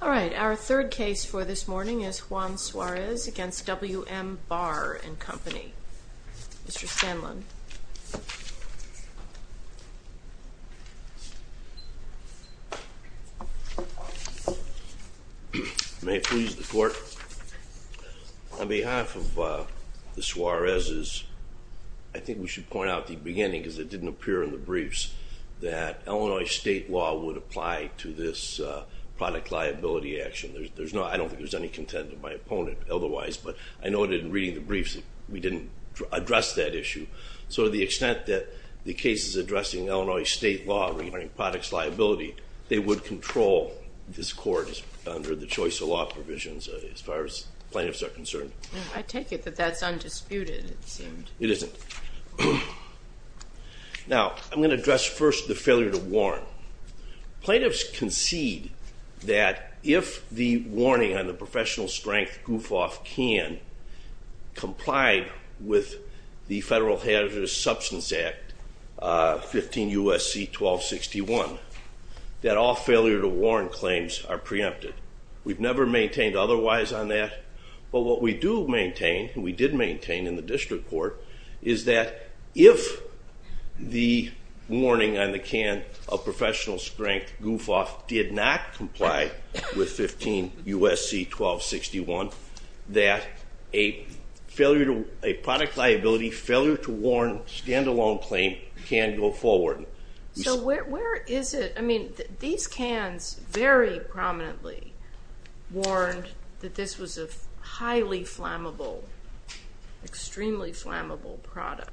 Alright, our third case for this morning is Juan Suarez v. W.M. Barr & Company. Mr. Stanlon. May it please the court, on behalf of the Suarez's, I think we should point out at the beginning because it didn't appear in the briefs, that Illinois state law would apply to this product liability action. There's no, I don't think there's any content of my opponent otherwise, but I noted in reading the briefs that we didn't address that issue. So to the extent that the case is addressing Illinois state law regarding products liability, they would control this court under the choice of law provisions as far as plaintiffs are concerned. I take it that that's undisputed. It isn't. Now, I'm going to address first the failure to warn. Plaintiffs concede that if the warning on the professional strength goof-off can comply with the Federal Hazardous Substance Act 15 U.S.C. 1261, that all failure to warn claims are preempted. We've never maintained otherwise on that, but what we do maintain, we did maintain in the district court, is that if the warning on the can of professional strength goof-off did not comply with 15 U.S.C. 1261, that a product liability failure to warn stand-alone claim can go forward. So where is it? I mean, these cans very prominently warned that this was a highly flammable, extremely flammable product.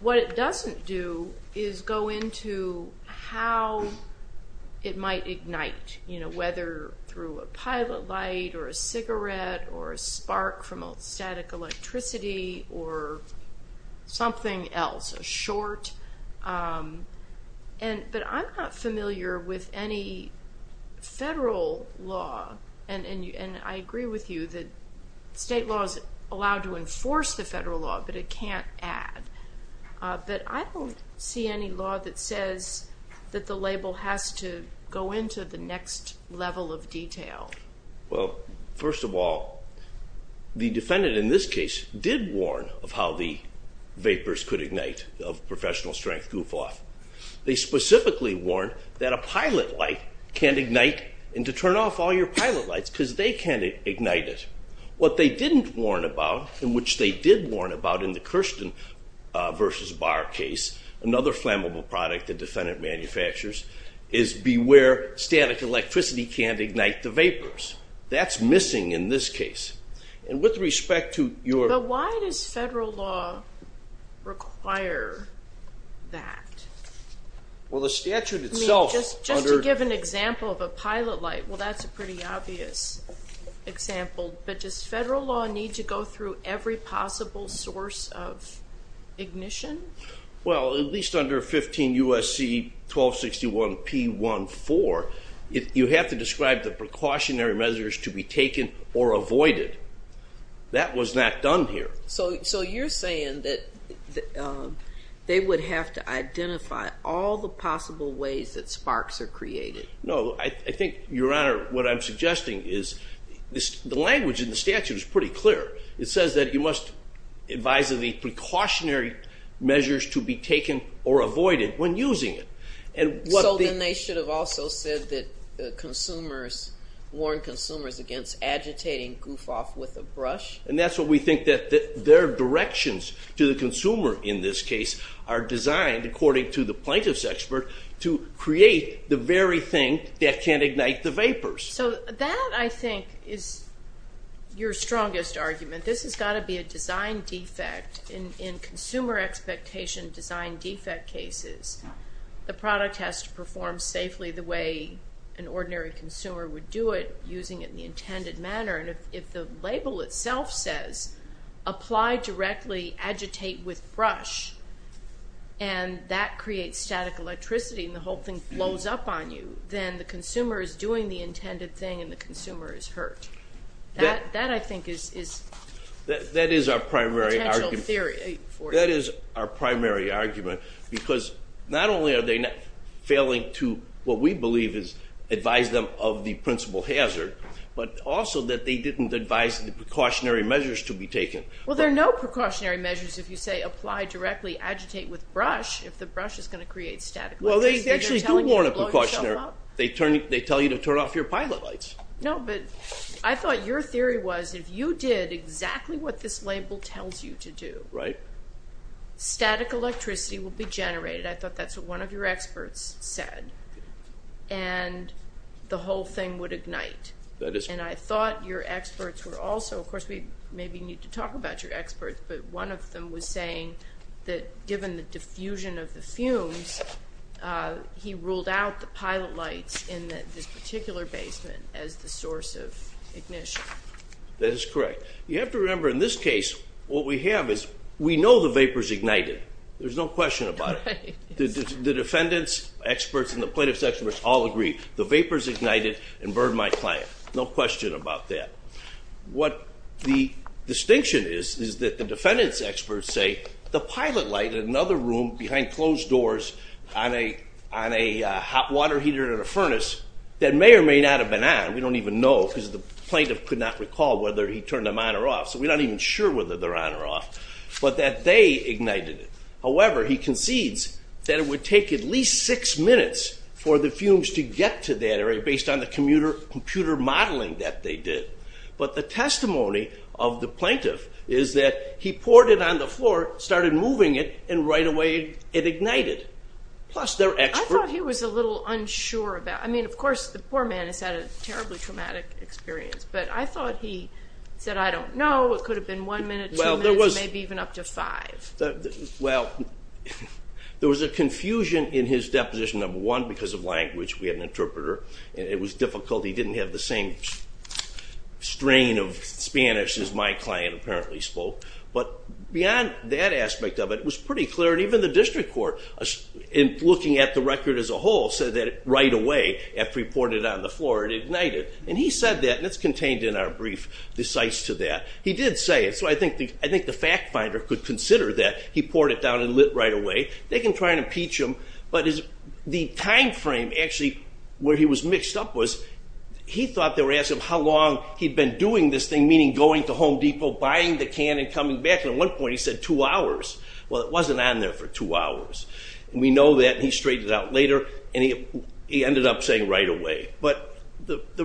What it doesn't do is go into how it might ignite, whether through a pilot light or a cigarette or a spark from static electricity or something else, a short. But I'm not familiar with any federal law, and I agree with you that state law is allowed to enforce the federal law, but it can't add. But I don't see any law that says that the label has to go into the next level of detail. Well, first of all, the defendant in this case did warn of how the vapors could ignite of professional strength goof-off. They specifically warned that a pilot light can't ignite and to turn off all your pilot lights because they can't ignite it. What they didn't warn about, and which they did warn about in the Kirsten v. Barr case, another flammable product the defendant manufactures, is beware static electricity can't ignite the vapors. That's missing in this case. And with respect to your... But why does federal law require that? Well, the statute itself... I mean, just to give an example of a pilot light, well, that's a pretty obvious example. But does federal law need to go through every possible source of ignition? Well, at least under 15 U.S.C. 1261 P.1.4, you have to describe the precautionary measures to be taken or avoided. That was not done here. So you're saying that they would have to identify all the possible ways that sparks are created. No, I think, Your Honor, what I'm suggesting is the language in the statute is pretty clear. It says that you must advise of the precautionary measures to be taken or avoided when using it. So then they should have also said that consumers warn consumers against agitating goof off with a brush? And that's what we think, that their directions to the consumer in this case are designed, according to the plaintiff's expert, to create the very thing that can't ignite the vapors. So that, I think, is your strongest argument. This has got to be a design defect. In consumer expectation design defect cases, the product has to perform safely the way an ordinary consumer would do it, using it in the intended manner. And if the label itself says, apply directly, agitate with brush, and that creates static electricity and the whole thing blows up on you, then the consumer is doing the intended thing and the consumer is hurt. That, I think, is the potential theory for you. That is our primary argument, because not only are they failing to what we believe is advise them of the principal hazard, but also that they didn't advise the precautionary measures to be taken. Well, there are no precautionary measures if you say, apply directly, agitate with brush, if the brush is going to create static electricity. Well, they actually do warn of precautionary. They tell you to turn off your pilot lights. No, but I thought your theory was if you did exactly what this label tells you to do, static electricity will be generated. I thought that's what one of your experts said, and the whole thing would ignite. And I thought your experts were also, of course, we maybe need to talk about your experts, but one of them was saying that given the diffusion of the fumes, he ruled out the pilot lights in this particular basement as the source of ignition. That is correct. You have to remember, in this case, what we have is we know the vapor's ignited. There's no question about it. The defendants, experts, and the plaintiff's experts all agree. The vapor's ignited and burned my client. No question about that. What the distinction is is that the defendant's experts say the pilot light in another room behind closed doors on a hot water heater in a furnace that may or may not have been on, we don't even know because the plaintiff could not recall whether he turned them on or off, so we're not even sure whether they're on or off, but that they ignited it. However, he concedes that it would take at least six minutes for the fumes to get to that area but the testimony of the plaintiff is that he poured it on the floor, started moving it, and right away it ignited, plus their experts. I thought he was a little unsure about it. I mean, of course, the poor man has had a terribly traumatic experience, but I thought he said, I don't know. It could have been one minute, two minutes, maybe even up to five. Well, there was a confusion in his deposition, number one, because of language. We had an interpreter. It was difficult. He didn't have the same strain of Spanish as my client apparently spoke. But beyond that aspect of it, it was pretty clear, and even the district court, looking at the record as a whole, said that right away after he poured it on the floor it ignited. And he said that, and it's contained in our brief, the cites to that. He did say it, so I think the fact finder could consider that. He poured it down and lit right away. They can try and impeach him, but the timeframe actually where he was mixed up was he thought they were asking him how long he'd been doing this thing, meaning going to Home Depot, buying the can, and coming back, and at one point he said two hours. Well, it wasn't on there for two hours. We know that, and he straightened it out later, and he ended up saying right away. But the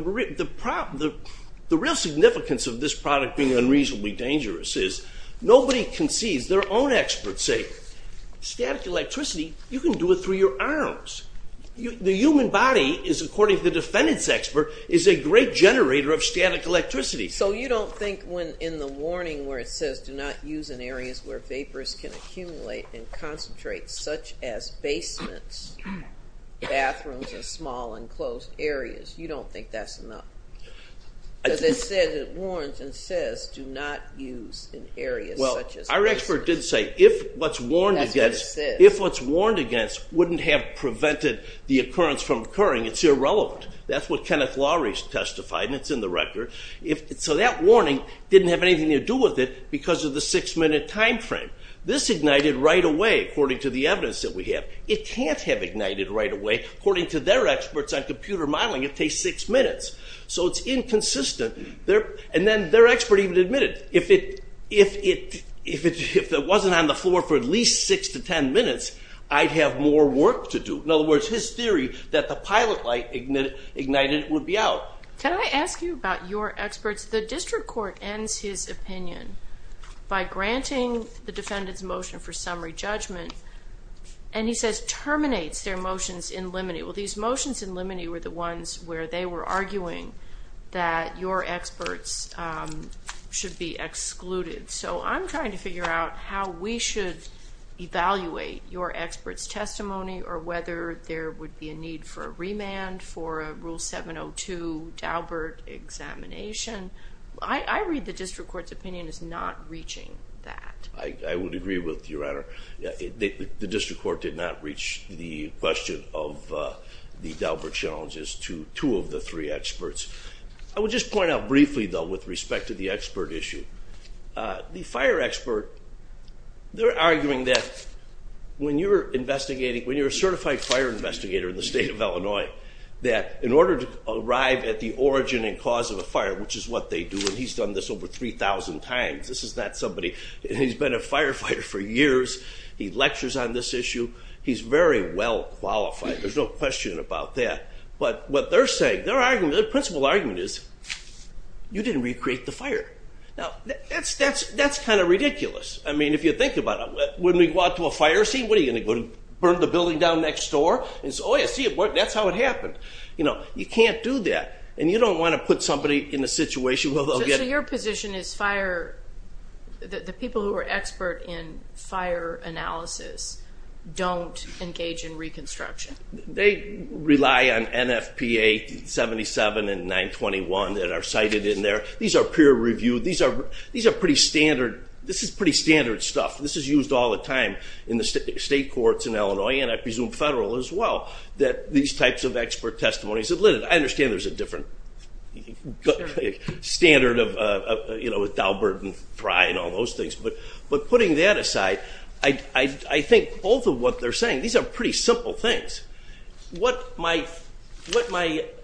real significance of this product being unreasonably dangerous is nobody can seize their own expert's sake. Static electricity, you can do it through your arms. The human body is, according to the defendant's expert, is a great generator of static electricity. So you don't think when in the warning where it says do not use in areas where vapors can accumulate and concentrate, such as basements, bathrooms, and small enclosed areas, you don't think that's enough? Because it says it warns and says do not use in areas such as basements. Our expert did say if what's warned against wouldn't have prevented the occurrence from occurring, it's irrelevant. That's what Kenneth Lowry testified, and it's in the record. So that warning didn't have anything to do with it because of the six-minute timeframe. This ignited right away, according to the evidence that we have. It can't have ignited right away. According to their experts on computer modeling, it takes six minutes. So it's inconsistent. And then their expert even admitted if it wasn't on the floor for at least six to ten minutes, I'd have more work to do. In other words, his theory that the pilot light ignited would be out. Can I ask you about your experts? The district court ends his opinion by granting the defendant's motion Well, these motions in limine were the ones where they were arguing that your experts should be excluded. So I'm trying to figure out how we should evaluate your experts' testimony or whether there would be a need for a remand for a Rule 702 Daubert examination. I read the district court's opinion as not reaching that. I would agree with you, Your Honor. The district court did not reach the question of the Daubert challenges to two of the three experts. I would just point out briefly, though, with respect to the expert issue, the fire expert, they're arguing that when you're investigating, when you're a certified fire investigator in the state of Illinois, that in order to arrive at the origin and cause of a fire, which is what they do, and he's done this over 3,000 times. This is not somebody who's been a firefighter for years. He lectures on this issue. He's very well qualified. There's no question about that. But what they're saying, their argument, their principal argument is, you didn't recreate the fire. Now, that's kind of ridiculous. I mean, if you think about it, when we go out to a fire scene, what, are you going to burn the building down next door? Oh, yeah, see, that's how it happened. You can't do that, and you don't want to put somebody in a situation where they'll get it. So your position is fire, the people who are expert in fire analysis don't engage in reconstruction? They rely on NFPA 77 and 921 that are cited in there. These are peer-reviewed. These are pretty standard. This is pretty standard stuff. This is used all the time in the state courts in Illinois, and I presume federal as well, that these types of expert testimonies. I understand there's a different standard with Daubert and Fry and all those things. But putting that aside, I think both of what they're saying, these are pretty simple things. What my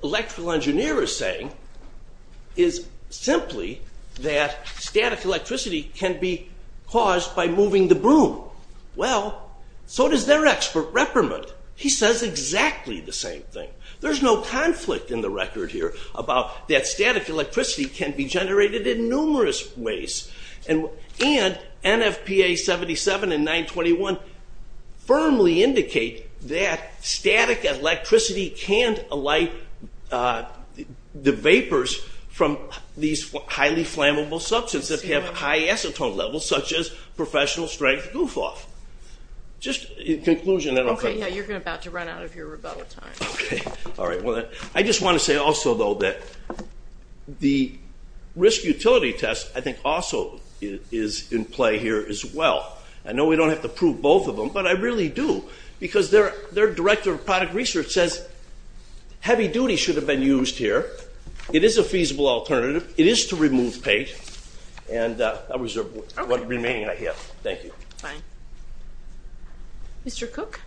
electrical engineer is saying is simply that static electricity can be caused by moving the broom. Well, so does their expert reprimand. He says exactly the same thing. There's no conflict in the record here about that static electricity can be generated in numerous ways. And NFPA 77 and 921 firmly indicate that static electricity can't alight the vapors from these highly flammable substances that have high acetone levels, such as professional-strength goof-off. Just in conclusion, I don't think. Yeah, you're about to run out of your rebuttal time. Okay. All right, well, I just want to say also, though, that the risk utility test I think also is in play here as well. I know we don't have to prove both of them, but I really do, because their director of product research says heavy duty should have been used here. It is a feasible alternative. It is to remove paint. And I'll reserve what remaining I have. Thank you. Fine. Mr. Cook?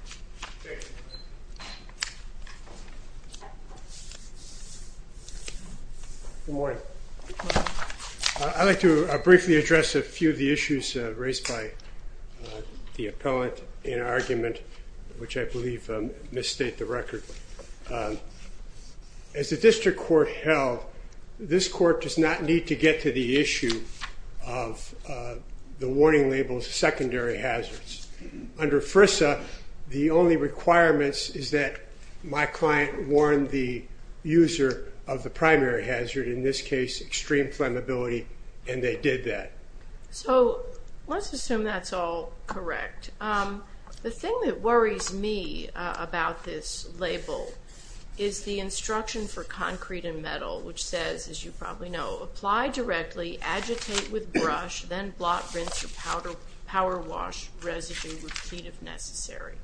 Good morning. I'd like to briefly address a few of the issues raised by the appellant in our argument, which I believe misstate the record. As the district court held, this court does not need to get to the issue of the warning labels secondary hazards. Under FRISA, the only requirements is that my client warn the user of the primary hazard, in this case extreme flammability, and they did that. So let's assume that's all correct. The thing that worries me about this label is the instruction for concrete and metal, which says, as you probably know, apply directly, agitate with power wash, residue, repeat if necessary.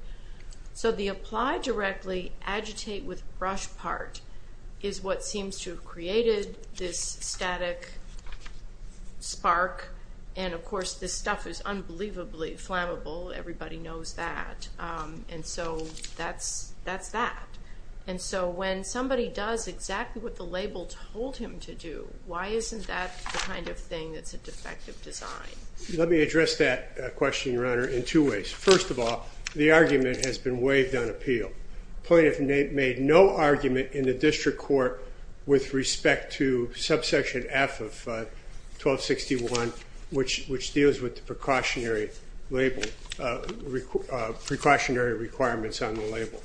So the apply directly, agitate with brush part is what seems to have created this static spark. And, of course, this stuff is unbelievably flammable. Everybody knows that. And so that's that. And so when somebody does exactly what the label told him to do, why isn't that the kind of thing that's a defective design? Let me address that question, Your Honor, in two ways. First of all, the argument has been waived on appeal. The plaintiff made no argument in the district court with respect to subsection F of 1261, which deals with the precautionary label, precautionary requirements on the label.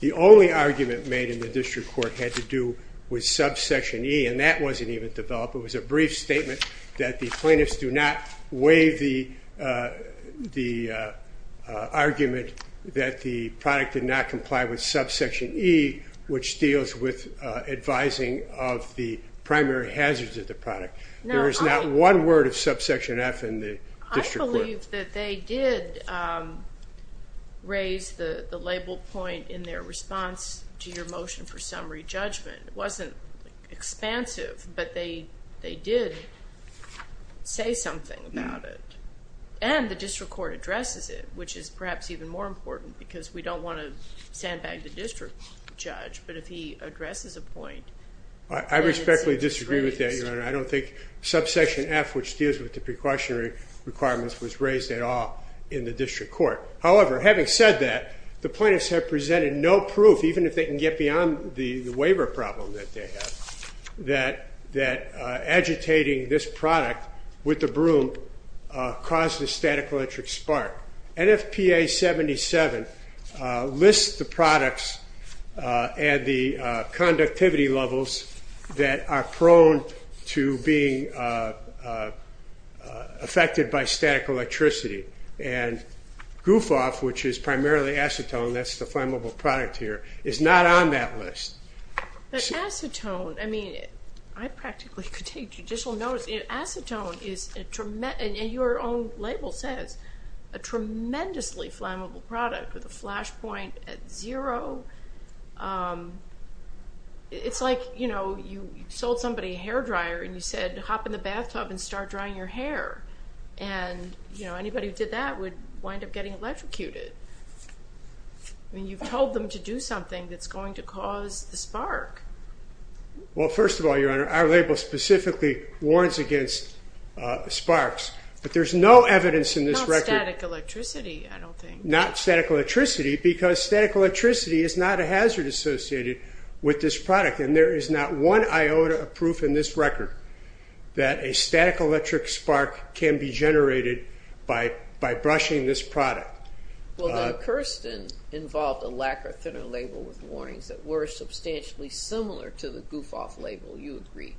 The only argument made in the district court had to do with subsection E, and that wasn't even developed. It was a brief statement that the plaintiffs do not waive the argument that the product did not comply with subsection E, which deals with advising of the primary hazards of the product. There is not one word of subsection F in the district court. I believe that they did raise the label point in their response to your motion for summary judgment. It wasn't expansive, but they did say something about it. And the district court addresses it, which is perhaps even more important because we don't want to sandbag the district judge, but if he addresses a point, then it's a disagreement. I respectfully disagree with that, Your Honor. I don't think subsection F, which deals with the precautionary requirements, was raised at all in the district court. However, having said that, the plaintiffs have presented no proof, even if they can get beyond the waiver problem that they have, that agitating this product with the broom caused the static electric spark. NFPA 77 lists the products and the conductivity levels that are prone to being affected by static electricity. And GUFOF, which is primarily acetone, that's the flammable product here, is not on that list. But acetone, I mean, I practically could take judicial notice. Acetone is a tremendous, and your own label says, a tremendously flammable product with a flash point at zero. It's like, you know, you sold somebody a hair dryer and you said, hop in the bathtub and start drying your hair. And, you know, anybody who did that would wind up getting electrocuted. I mean, you've told them to do something that's going to cause the spark. Well, first of all, Your Honor, our label specifically warns against sparks. But there's no evidence in this record. Not static electricity, I don't think. Not static electricity because static electricity is not a hazard associated with this product. And there is not one iota of proof in this record that a static electric spark can be generated by brushing this product. Well, the Kirsten involved a lacquer thinner label with warnings that were substantially similar to the GUFOF label, you agree?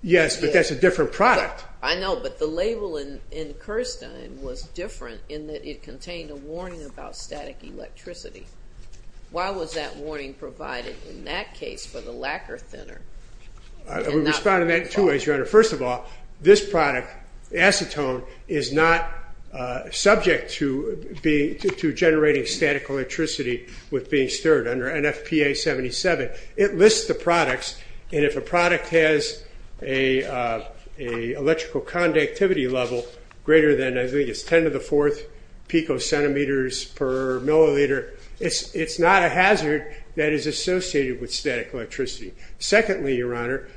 Yes, but that's a different product. I know, but the label in Kirsten was different in that it contained a warning about static electricity. Why was that warning provided in that case for the lacquer thinner? I would respond to that in two ways, Your Honor. First of all, this product, acetone, is not subject to generating static electricity with being stirred under NFPA 77. It lists the products, and if a product has an electrical conductivity level greater than, I think it's 10 to the 4th picocentimeters per milliliter, it's not a hazard that is associated with static electricity. Secondly, Your Honor,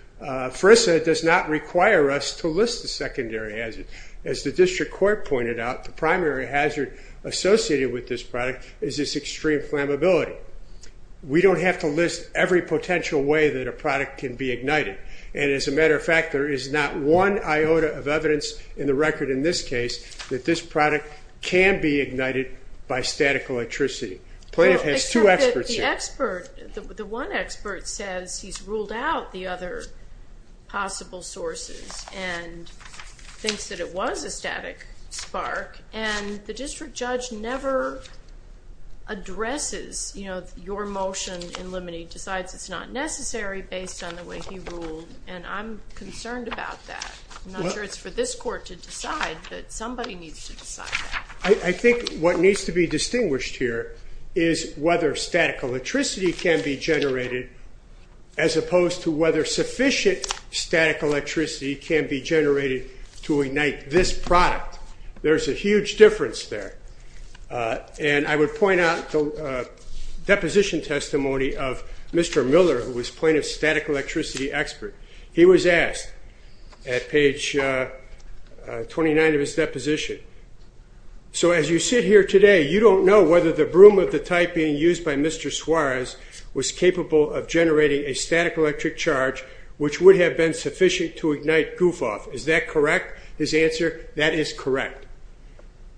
FRISA does not require us to list the secondary hazard. As the district court pointed out, the primary hazard associated with this product is its extreme flammability. We don't have to list every potential way that a product can be ignited. And as a matter of fact, there is not one iota of evidence in the record in this case that this product can be ignited by static electricity. Plaintiff has two experts here. The expert, the one expert says he's ruled out the other possible sources and thinks that it was a static spark, and the district judge never addresses your motion in limine decides it's not necessary based on the way he ruled, and I'm concerned about that. I'm not sure it's for this court to decide, but somebody needs to decide that. I think what needs to be distinguished here is whether static electricity can be generated as opposed to whether sufficient static electricity can be generated to ignite this product. There's a huge difference there. And I would point out the deposition testimony of Mr. Miller, who was plaintiff's static electricity expert. He was asked at page 29 of his deposition, so as you sit here today, you don't know whether the broom of the type being used by Mr. Suarez was capable of generating a static electric charge, which would have been sufficient to ignite goof-off. Is that correct, his answer? That is correct.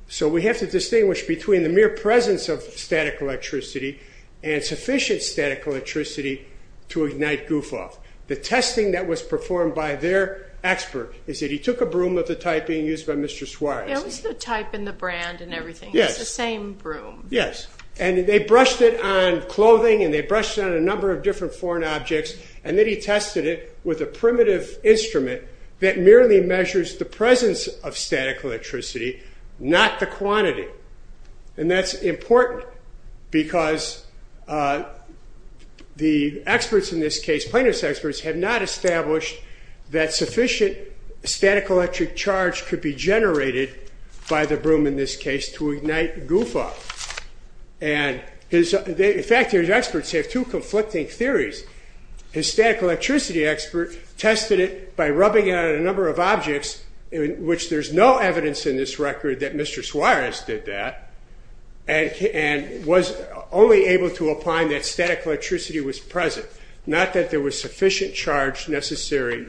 So we have to distinguish between the mere presence of static electricity and sufficient static electricity to ignite goof-off. The testing that was performed by their expert is that he took a broom of the type being used by Mr. Suarez. It was the type and the brand and everything. Yes. It's the same broom. Yes. And they brushed it on clothing and they brushed it on a number of different foreign objects, and then he tested it with a primitive instrument that merely measures the presence of static electricity, not the quantity. And that's important because the experts in this case, plaintiff's experts, have not established that sufficient static electric charge could be generated by the broom in this case to ignite goof-off. In fact, his experts have two conflicting theories. His static electricity expert tested it by rubbing it on a number of objects, which there's no evidence in this record that Mr. Suarez did that and was only able to find that static electricity was present, not that there was sufficient charge necessary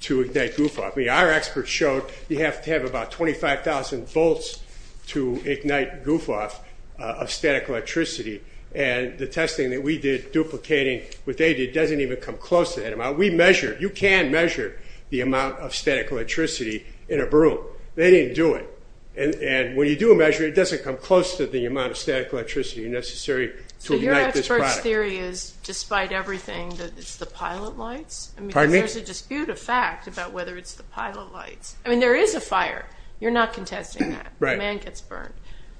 to ignite goof-off. I mean, our experts showed you have to have about 25,000 volts to ignite goof-off of static electricity, and the testing that we did duplicating what they did doesn't even come close to that amount. We measure. You can measure the amount of static electricity in a broom. They didn't do it. And when you do a measure, it doesn't come close to the amount of static electricity necessary to ignite this product. So your expert's theory is, despite everything, that it's the pilot lights? Pardon me? Because there's a dispute of fact about whether it's the pilot lights. I mean, there is a fire. You're not contesting that. Right. A man gets burned.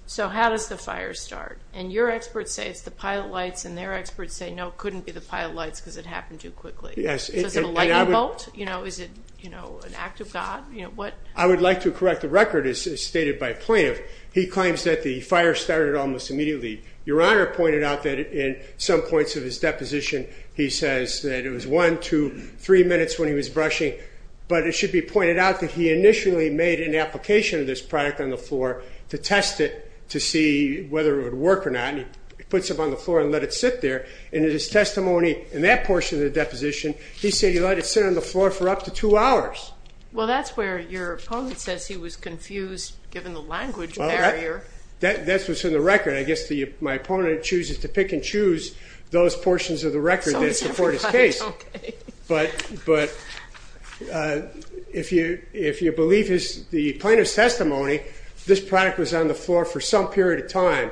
So how does the fire start? And your experts say it's the pilot lights, and their experts say, no, it couldn't be the pilot lights because it happened too quickly. Yes. Is it a lightning bolt? Is it an act of God? I would like to correct the record as stated by plaintiff. He claims that the fire started almost immediately. Your Honor pointed out that in some points of his deposition, he says that it was one, two, three minutes when he was brushing. But it should be pointed out that he initially made an application of this product on the floor to test it to see whether it would work or not. He puts it on the floor and let it sit there. And in his testimony in that portion of the deposition, he said he let it sit on the floor for up to two hours. Well, that's where your opponent says he was confused, given the language barrier. That's what's in the record. I guess my opponent chooses to pick and choose those portions of the record that support his case. But if you believe the plaintiff's testimony, this product was on the floor for some period of time.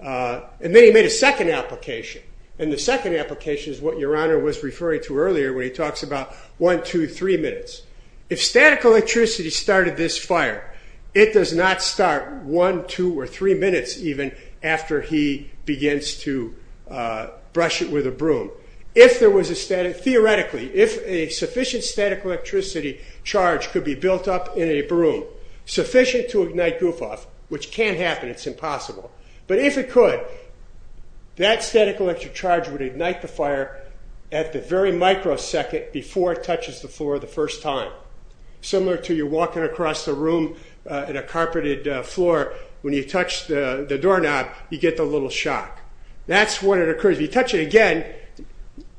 And then he made a second application. And the second application is what your Honor was referring to earlier, where he talks about one, two, three minutes. If static electricity started this fire, it does not start one, two, or three minutes, even after he begins to brush it with a broom. If there was a static, theoretically, if a sufficient static electricity charge could be built up in a broom, sufficient to ignite Goufoff, which can't happen, it's impossible. But if it could, that static electric charge would ignite the fire at the very microsecond before it touches the floor the first time. Similar to you walking across the room in a carpeted floor. When you touch the doorknob, you get the little shock. That's when it occurs. If you touch it again,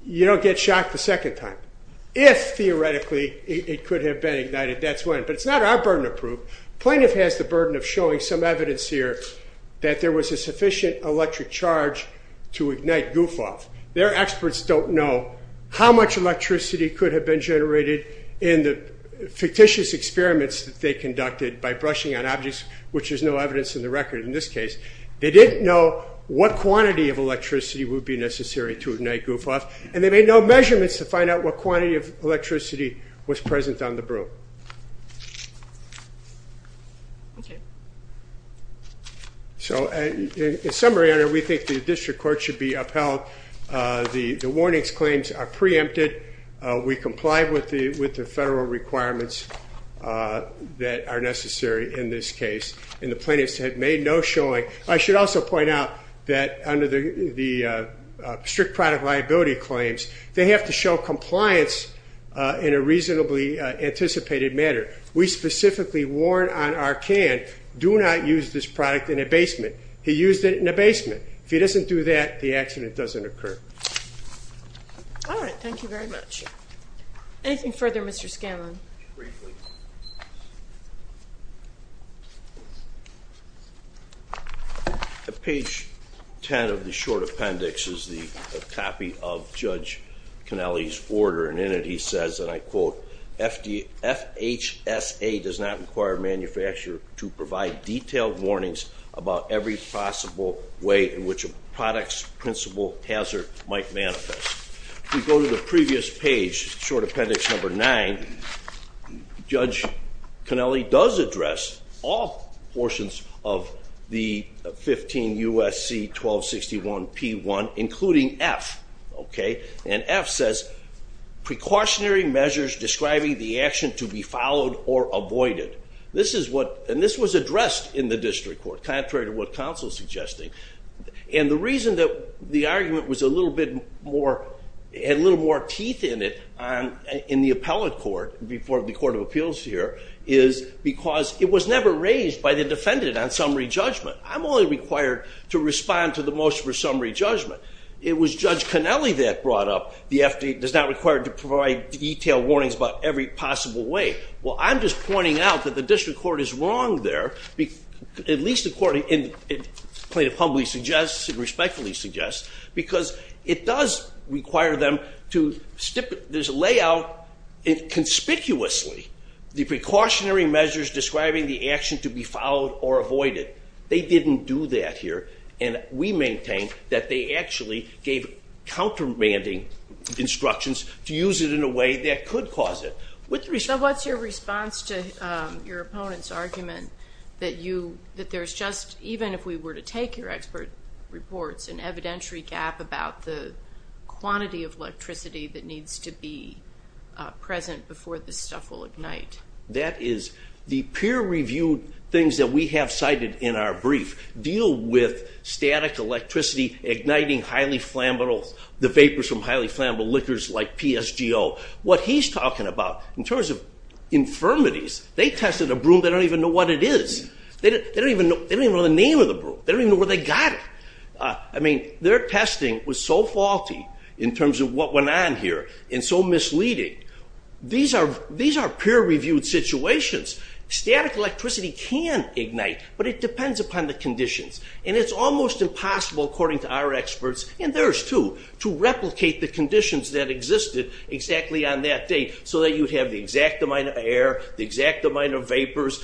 you don't get shocked the second time. If, theoretically, it could have been ignited, that's when. But it's not our burden to prove. Plaintiff has the burden of showing some evidence here that there was a sufficient electric charge to ignite Goufoff. Their experts don't know how much electricity could have been generated in the fictitious experiments that they conducted by brushing on objects, which there's no evidence in the record in this case. They didn't know what quantity of electricity would be necessary to ignite Goufoff, and they made no measurements to find out what quantity of electricity was present on the broom. Okay. So in summary, we think the district court should be upheld. The warnings claims are preempted. We comply with the federal requirements that are necessary in this case, and the plaintiffs have made no showing. I should also point out that under the strict product liability claims, they have to show compliance in a reasonably anticipated manner. We specifically warn on Arkan, do not use this product in a basement. He used it in a basement. If he doesn't do that, the accident doesn't occur. All right. Thank you very much. Anything further, Mr. Scanlon? Briefly. Page 10 of the short appendix is a copy of Judge Cannelli's order, and in it he says, and I quote, FHSA does not require a manufacturer to provide detailed warnings about every possible way in which a product's principal hazard might manifest. If we go to the previous page, short appendix number 9, Judge Cannelli does address all portions of the 15 USC 1261P1, including F, okay? And F says, precautionary measures describing the action to be followed or avoided. This is what, and this was addressed in the district court, contrary to what counsel is suggesting. And the reason that the argument was a little bit more, had a little more teeth in it in the appellate court, before the court of appeals here, is because it was never raised by the defendant on summary judgment. I'm only required to respond to the motion for summary judgment. It was Judge Cannelli that brought up the FD, does not require to provide detailed warnings about every possible way. Well, I'm just pointing out that the district court is wrong there, at least according, and plaintiff humbly suggests and respectfully suggests, because it does require them to stipulate, there's a layout conspicuously, the precautionary measures describing the action to be followed or avoided. They didn't do that here. And we maintain that they actually gave countermanding instructions to use it in a way that could cause it. So what's your response to your opponent's argument that you, that there's just, even if we were to take your expert reports and evidentiary gap about the quantity of electricity that needs to be present before this stuff will ignite. That is the peer reviewed things that we have cited in our brief deal with static electricity, igniting highly flammable, the vapors from highly flammable liquors like PSGO. What he's talking about in terms of infirmities, they tested a broom that don't even know what it is. They don't even know the name of the broom. They don't even know where they got it. I mean, their testing was so faulty in terms of what went on here and so misleading. These are, these are peer reviewed situations. Static electricity can ignite, but it depends upon the conditions. And it's almost impossible according to our experts and theirs too, to replicate the conditions that existed exactly on that day so that you'd have the exact amount of air, the exact amount of vapors.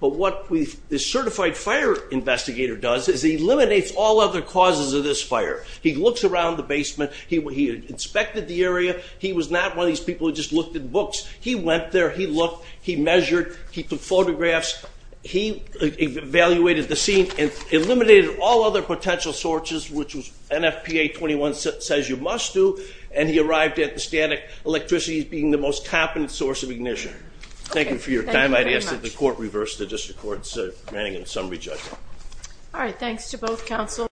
But what we've, the certified fire investigator does is he eliminates all other causes of this fire. He looks around the basement. He inspected the area. He was not one of these people who just looked at books. He went there, he looked, he measured, he took photographs. He evaluated the scene and eliminated all other potential sources, which was NFPA 21 says you must do. And he arrived at the static electricity as being the most competent source of ignition. Thank you for your time. I ask that the court reverse the district court's manning and summary judgment. All right. Thanks to both counsel.